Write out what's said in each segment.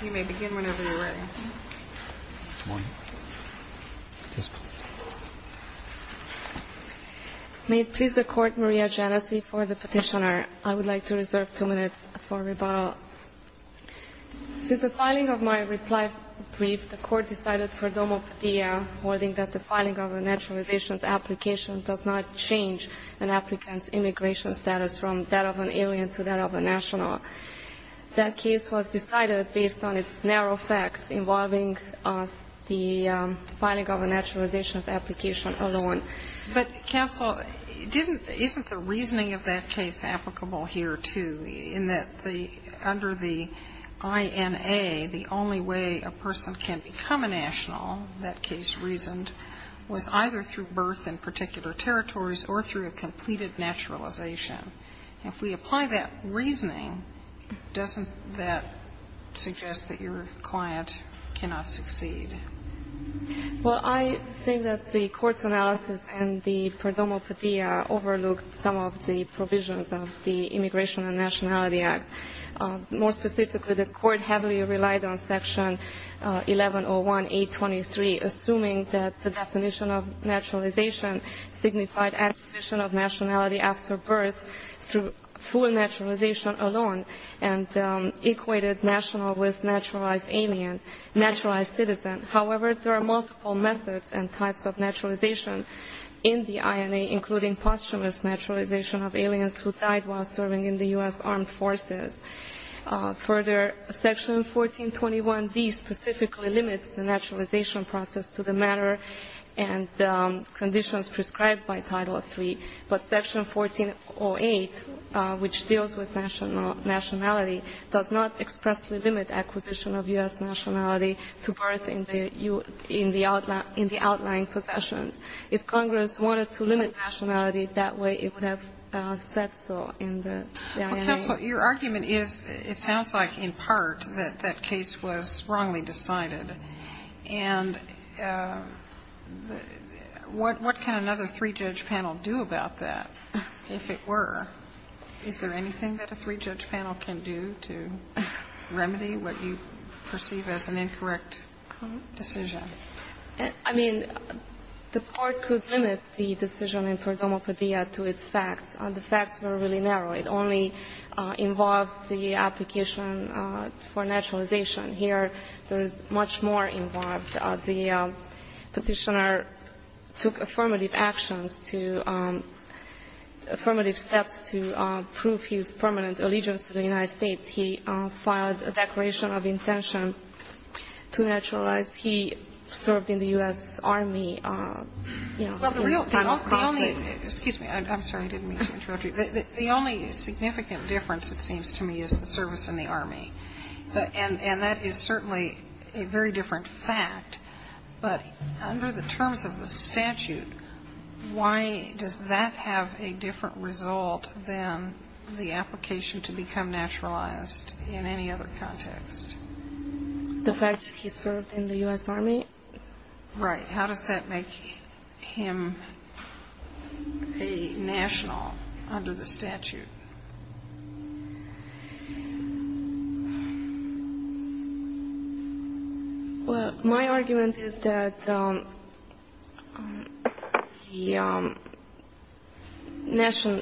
May it please the Court, Maria Genesee, for the petitioner. I would like to reserve two minutes for rebuttal. Since the filing of my reply brief, the Court decided for Domopatia, wording that the filing of a naturalization application does not change an applicant's immigration status from that of an alien to that of a national. That case was decided based on its narrow facts involving the filing of a naturalization application alone. But, counsel, isn't the reasoning of that case applicable here, too, in that under the INA, the only way a person can become a national, that case reasoned, was either through birth in particular territories or through a completed naturalization? If we apply that reasoning, doesn't that suggest that your client cannot succeed? Well, I think that the Court's analysis and the Pro Domopatia overlooked some of the provisions of the Immigration and Nationality Act. More specifically, the Court heavily relied on Section 1101A23, assuming that the definition of naturalization signified acquisition of nationality after birth through full naturalization alone and equated national with naturalized alien, naturalized citizen. However, there are multiple methods and types of naturalization in the INA, including posthumous naturalization of aliens who died while serving in the U.S. armed forces. Further, Section 1421B specifically limits the naturalization process to the manner and conditions prescribed by Title III. But Section 1408, which deals with nationality, does not expressly limit acquisition of U.S. nationality to birth in the outlying possessions. If Congress wanted to limit nationality that way, it would have said so in the INA. So your argument is, it sounds like, in part, that that case was wrongly decided. And what can another three-judge panel do about that, if it were? Is there anything that a three-judge panel can do to remedy what you perceive as an incorrect decision? I mean, the Court could limit the decision in Pro Domopatia to its facts. The facts were really narrow. It only involved the application for naturalization. Here, there is much more involved. The Petitioner took affirmative actions to – affirmative steps to prove his permanent allegiance to the United States. He filed a declaration of intention to naturalize. He served in the U.S. Army. Well, the real – the only – excuse me. I'm sorry, I didn't mean to interrupt you. The only significant difference, it seems to me, is the service in the Army. And that is certainly a very different fact. But under the terms of the statute, why does that have a different result than the application to become naturalized in any other context? The fact that he served in the U.S. Army? Right. How does that make him a national under the statute? Well, my argument is that the national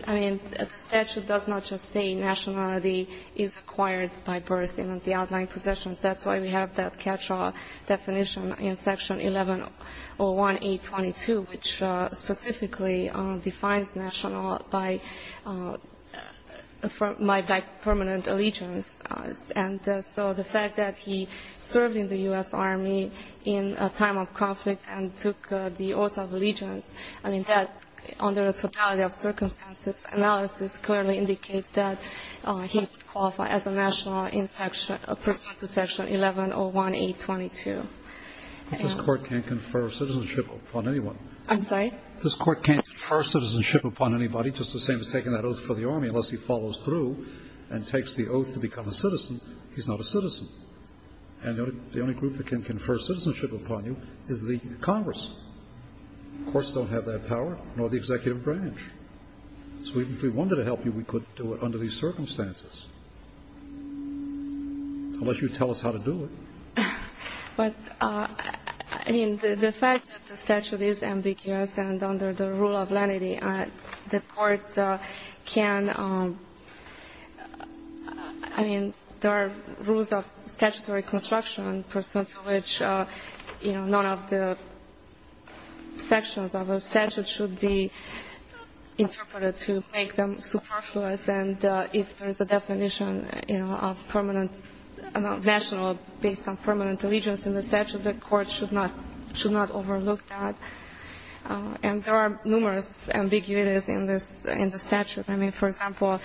– I mean, the statute does not just say nationality is acquired by birth in the outlying possessions. That's why we have that catch-all definition in Section 1101A.22, which specifically defines national by permanent allegiance. And so the fact that he served in the U.S. Army in a time of conflict and took the oath of allegiance, I mean, that under the totality of circumstances analysis clearly indicates that he qualified as a national in Section – a person to Section 1101A.22. But this Court can't confer citizenship upon anyone. I'm sorry? This Court can't confer citizenship upon anybody, just the same as taking that oath for the Army, unless he follows through and takes the oath to become a citizen. He's not a citizen. And the only group that can confer citizenship upon you is the Congress. The courts don't have that power, nor the executive branch. So even if we wanted to help you, we couldn't do it under these circumstances. Unless you tell us how to do it. But, I mean, the fact that the statute is ambiguous and under the rule of lenity, the Court can – I mean, there are rules of statutory construction pursuant to which, you know, none of the sections of a statute should be interpreted to make them superfluous. And if there's a definition, you know, of permanent – national based on permanent allegiance in the statute, the Court should not overlook that. And there are numerous ambiguities in the statute. I mean, for example,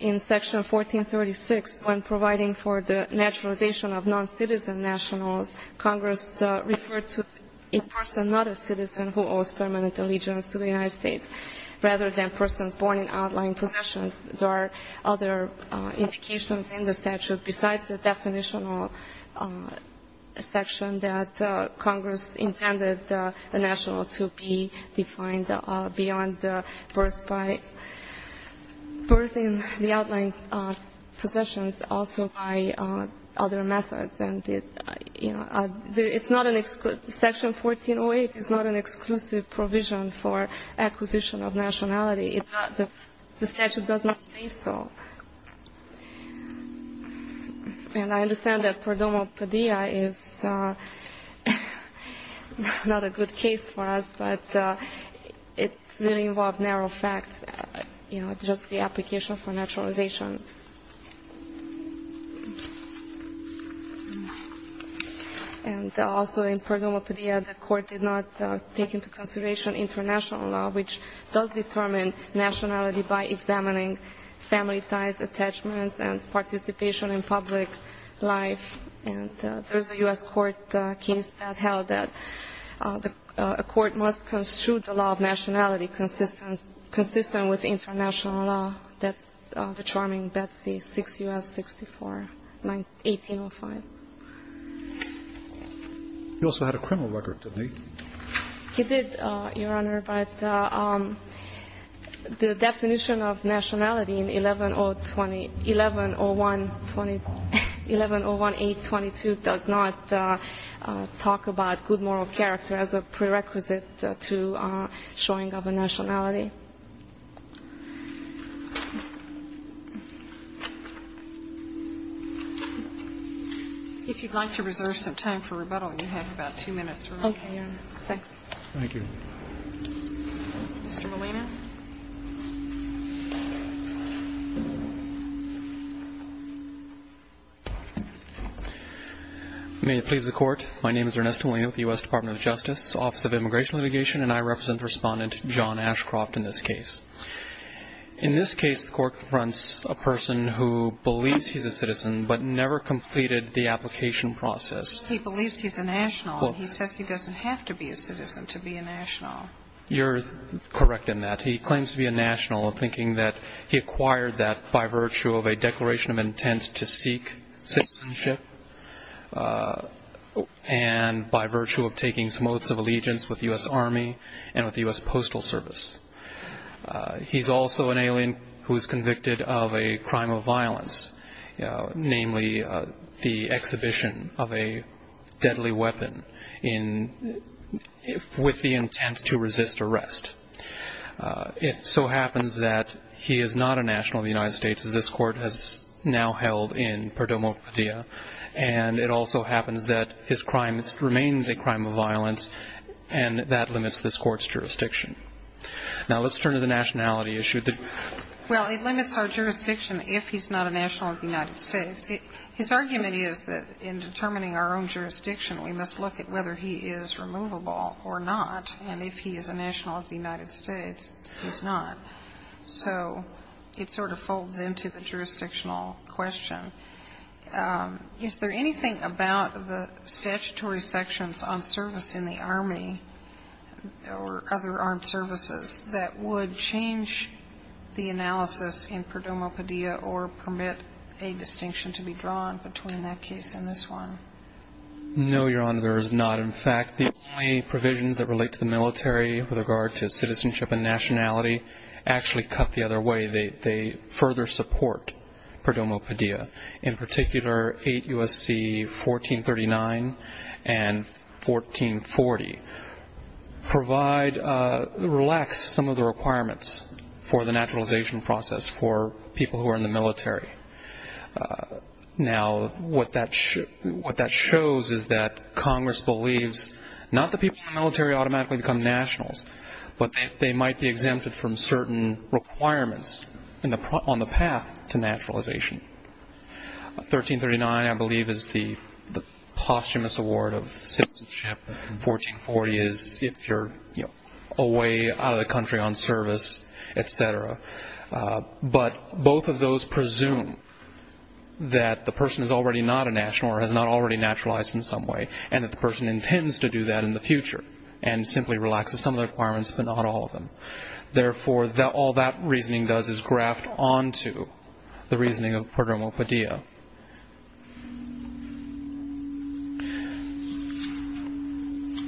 in Section 1436, when providing for the naturalization of non-citizen nationals, Congress referred to a person not a citizen who owes permanent allegiance to the United States, rather than persons born in outlying possessions. There are other indications in the statute besides the definitional section that Congress intended the national to be defined beyond birth by – birth in the outlying possessions, also by other methods. And, you know, it's not an – Section 1408 is not an exclusive provision for acquisition of nationality. The statute does not say so. And I understand that Pordomo Padilla is not a good case for us, but it really involved narrow facts, you know, just the application for naturalization. And also in Pordomo Padilla, the Court did not take into consideration international law, which does determine nationality by examining family ties, attachments, and participation in public life. And there's a U.S. court case that held that a court must construe the law of nationality consistent with international law. That's the charming Betsy 6 U.S. 64, 1805. He did, Your Honor, but the definition of nationality in 110120 – 1101822 does not talk about good moral character as a prerequisite to showing of a nationality. If you'd like to reserve some time for rebuttal, you have about two minutes remaining. Okay, Your Honor. Thanks. Thank you. Mr. Molina. May it please the Court. My name is Ernesto Molina with the U.S. Department of Justice, Office of Immigration Litigation, and I represent Respondent John Ashcroft in this case. In this case, the Court confronts a person who believes he's a citizen but never completed the application process. He believes he's a national, and he says he doesn't have to be a citizen to be a national. You're correct in that. He claims to be a national, thinking that he acquired that by virtue of a declaration of intent to seek citizenship and by virtue of taking some oaths of allegiance with the U.S. Army and with the U.S. Postal Service. He's also an alien who's convicted of a crime of violence, namely the exhibition of a deadly weapon with the intent to resist arrest. It so happens that he is not a national of the United States, as this Court has now held in Perdomo Padilla, and it also happens that his crime remains a crime of violence, and that limits this Court's jurisdiction. Now, let's turn to the nationality issue. Well, it limits our jurisdiction if he's not a national of the United States. His argument is that in determining our own jurisdiction, we must look at whether he is removable or not, and if he is a national of the United States, he's not. So it sort of folds into the jurisdictional question. Is there anything about the statutory sections on service in the Army or other armed services that would change the analysis in Perdomo Padilla or permit a distinction to be drawn between that case and this one? No, Your Honor, there is not. In fact, the only provisions that relate to the military with regard to citizenship and nationality actually cut the other way. They further support Perdomo Padilla. In particular, 8 U.S.C. 1439 and 1440 relax some of the requirements for the naturalization process for people who are in the military. Now, what that shows is that Congress believes not that people in the military automatically become nationals, but that they might be exempted from certain requirements on the path to naturalization. 1339, I believe, is the posthumous award of citizenship, and 1440 is if you're away, out of the country on service, et cetera. But both of those presume that the person is already not a national or has not already naturalized in some way and that the person intends to do that in the future and simply relaxes some of the requirements but not all of them. Therefore, all that reasoning does is graft onto the reasoning of Perdomo Padilla.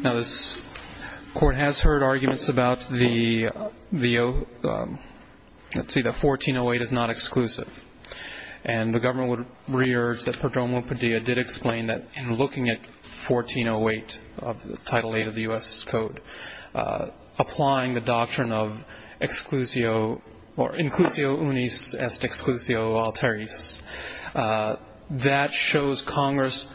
Now, this Court has heard arguments about the 1408 is not exclusive, and the government would re-urge that Perdomo Padilla did explain that in looking at 1408, Title VIII of the U.S. Code, applying the doctrine of inclusio unis est exclusio alteris, that shows Congress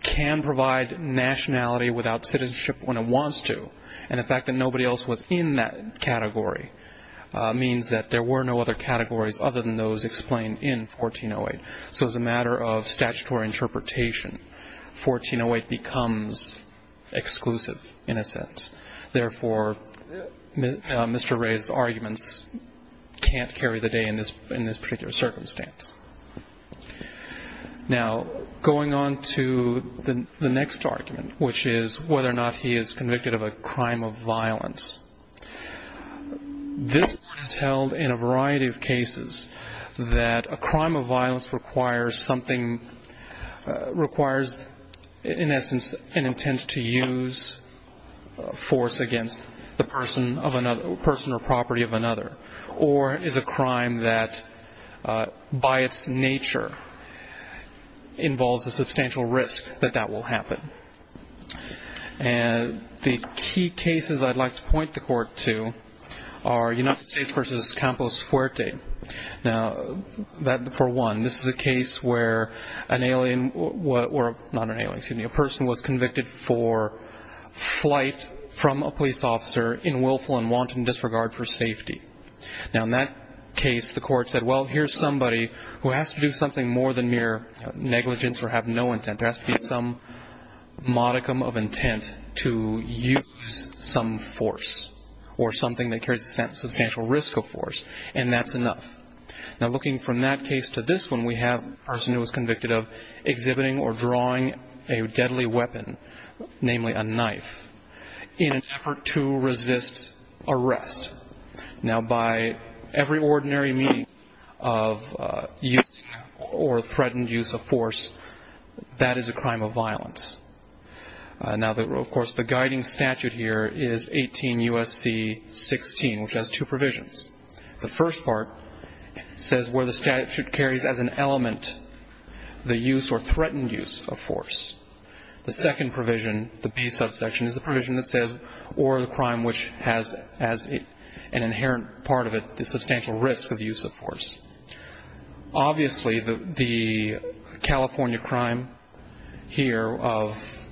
can provide nationality without citizenship when it wants to, and the fact that nobody else was in that category means that there were no other categories other than those explained in 1408. So as a matter of statutory interpretation, 1408 becomes exclusive in a sense. Therefore, Mr. Ray's arguments can't carry the day in this particular circumstance. Now, going on to the next argument, which is whether or not he is convicted of a crime of violence. This Court has held in a variety of cases that a crime of violence requires something, requires in essence an intent to use force against the person or property of another, or is a crime that by its nature involves a substantial risk that that will happen. The key cases I'd like to point the Court to are United States v. Campos Fuerte. Now, for one, this is a case where a person was convicted for flight from a police officer in willful and wanton disregard for safety. Now, in that case, the Court said, well, here's somebody who has to do something more than mere negligence or have no intent. There has to be some modicum of intent to use some force or something that carries a substantial risk of force, and that's enough. Now, looking from that case to this one, we have a person who was convicted of exhibiting or drawing a deadly weapon, namely a knife, in an effort to resist arrest. Now, by every ordinary meaning of using or threatened use of force, that is a crime of violence. Now, of course, the guiding statute here is 18 U.S.C. 16, which has two provisions. The first part says where the statute carries as an element the use or threatened use of force. The second provision, the B subsection, is the provision that says, or the crime which has as an inherent part of it the substantial risk of use of force. Obviously, the California crime here of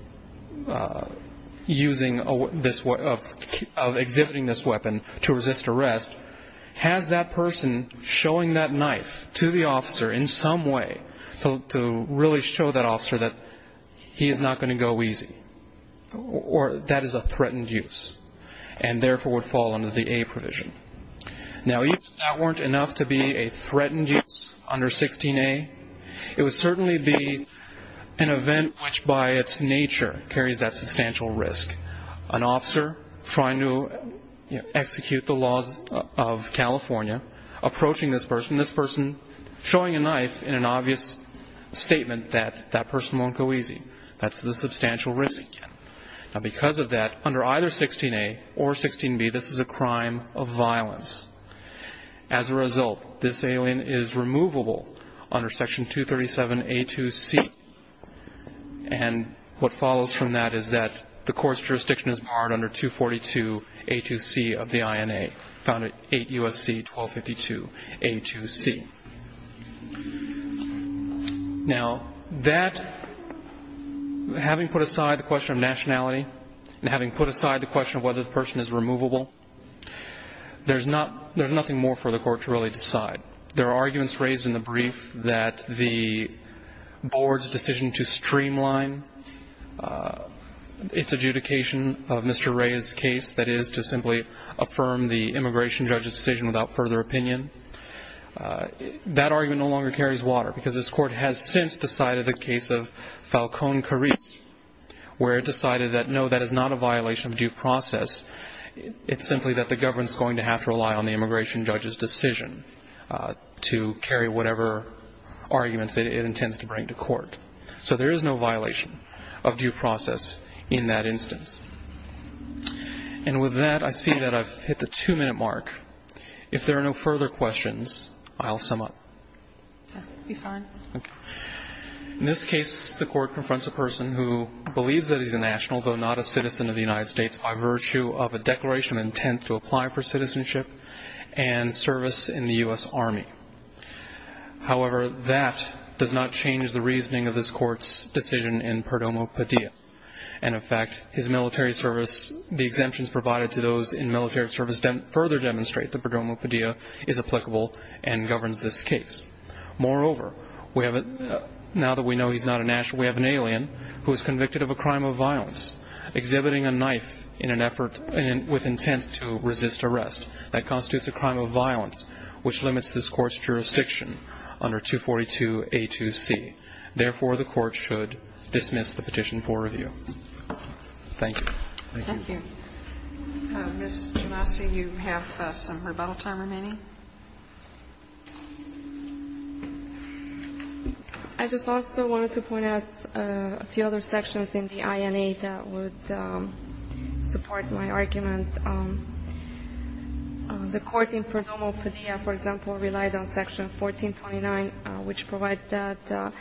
exhibiting this weapon to resist arrest has that person showing that knife to the officer in some way to really show that officer that he is not going to go easy, or that is a threatened use, and therefore would fall under the A provision. Now, even if that weren't enough to be a threatened use under 16A, it would certainly be an event which by its nature carries that substantial risk, an officer trying to execute the laws of California, approaching this person, this person showing a knife in an obvious statement that that person won't go easy. That's the substantial risk. Now, because of that, under either 16A or 16B, this is a crime of violence. As a result, this alien is removable under Section 237A2C, and what follows from that is that the court's jurisdiction is barred under 242A2C of the INA, found at 8 U.S.C. 1252A2C. Now, that, having put aside the question of nationality and having put aside the question of whether the person is removable, there's nothing more for the court to really decide. There are arguments raised in the brief that the board's decision to streamline its adjudication of Mr. Ray's case, that is to simply affirm the immigration judge's decision without further opinion, that argument no longer carries water because this court has since decided the case of Falcone-Carris, where it decided that, no, that is not a violation of due process. It's simply that the government's going to have to rely on the immigration judge's decision to carry whatever arguments it intends to bring to court. So there is no violation of due process in that instance. And with that, I see that I've hit the two-minute mark. If there are no further questions, I'll sum up. In this case, the court confronts a person who believes that he's a national, though not a citizen of the United States, by virtue of a declaration of intent to apply for citizenship and service in the U.S. Army. However, that does not change the reasoning of this court's decision in Perdomo Padilla. And, in fact, his military service, the exemptions provided to those in military service further demonstrate that Perdomo Padilla is applicable and governs this case. Moreover, now that we know he's not a national, we have an alien who is convicted of a crime of violence, exhibiting a knife in an effort with intent to resist arrest. That constitutes a crime of violence, which limits this court's jurisdiction under 242A2C. Therefore, the court should dismiss the petition for review. Thank you. Thank you. Ms. Genasi, you have some rebuttal time remaining. I just also wanted to point out a few other sections in the INA that would support my argument. The court in Perdomo Padilla, for example, relied on Section 1429, which provides that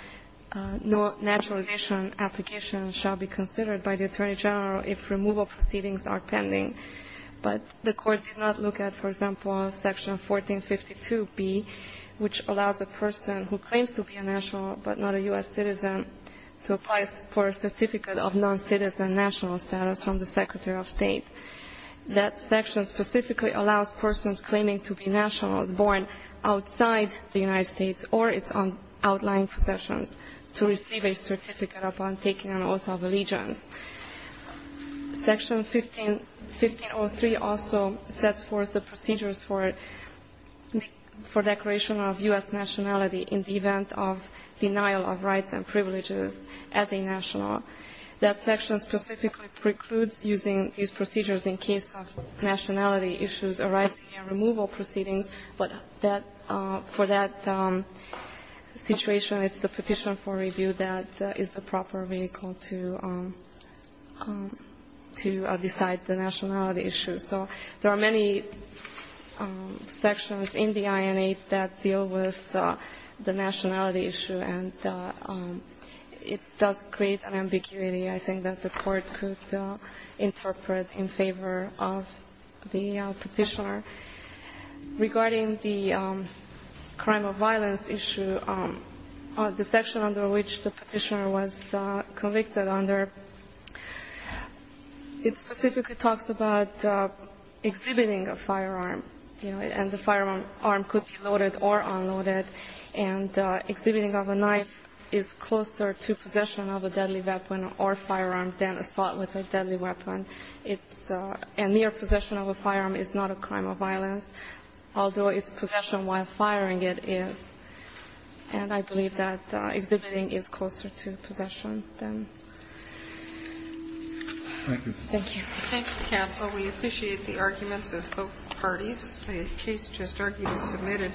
no naturalization application shall be considered by the Attorney General if removal proceedings are pending. But the court did not look at, for example, Section 1452B, which allows a person who claims to be a national but not a U.S. citizen to apply for a certificate of noncitizen national status from the Secretary of State. That section specifically allows persons claiming to be nationals born outside the United States or its outlying possessions to receive a certificate upon taking an oath of allegiance. Section 1503 also sets forth the procedures for declaration of U.S. nationality in the event of denial of rights and privileges as a national. That section specifically precludes using these procedures in case of nationality issues arising in removal proceedings, but for that situation, it's the petition for review that is the proper vehicle to decide the nationality issue. So there are many sections in the INA that deal with the nationality issue, and it does create an ambiguity, I think, that the court could interpret in favor of the Petitioner. Regarding the crime of violence issue, the section under which the Petitioner was convicted under, it specifically talks about exhibiting a firearm, you know, and the firearm could be loaded or unloaded. And exhibiting of a knife is closer to possession of a deadly weapon or firearm than assault with a deadly weapon. It's a near possession of a firearm is not a crime of violence, although it's possession while firing it is. And I believe that exhibiting is closer to possession than. Thank you. Thank you. Thank you, counsel. We appreciate the arguments of both parties. The case just argued is submitted.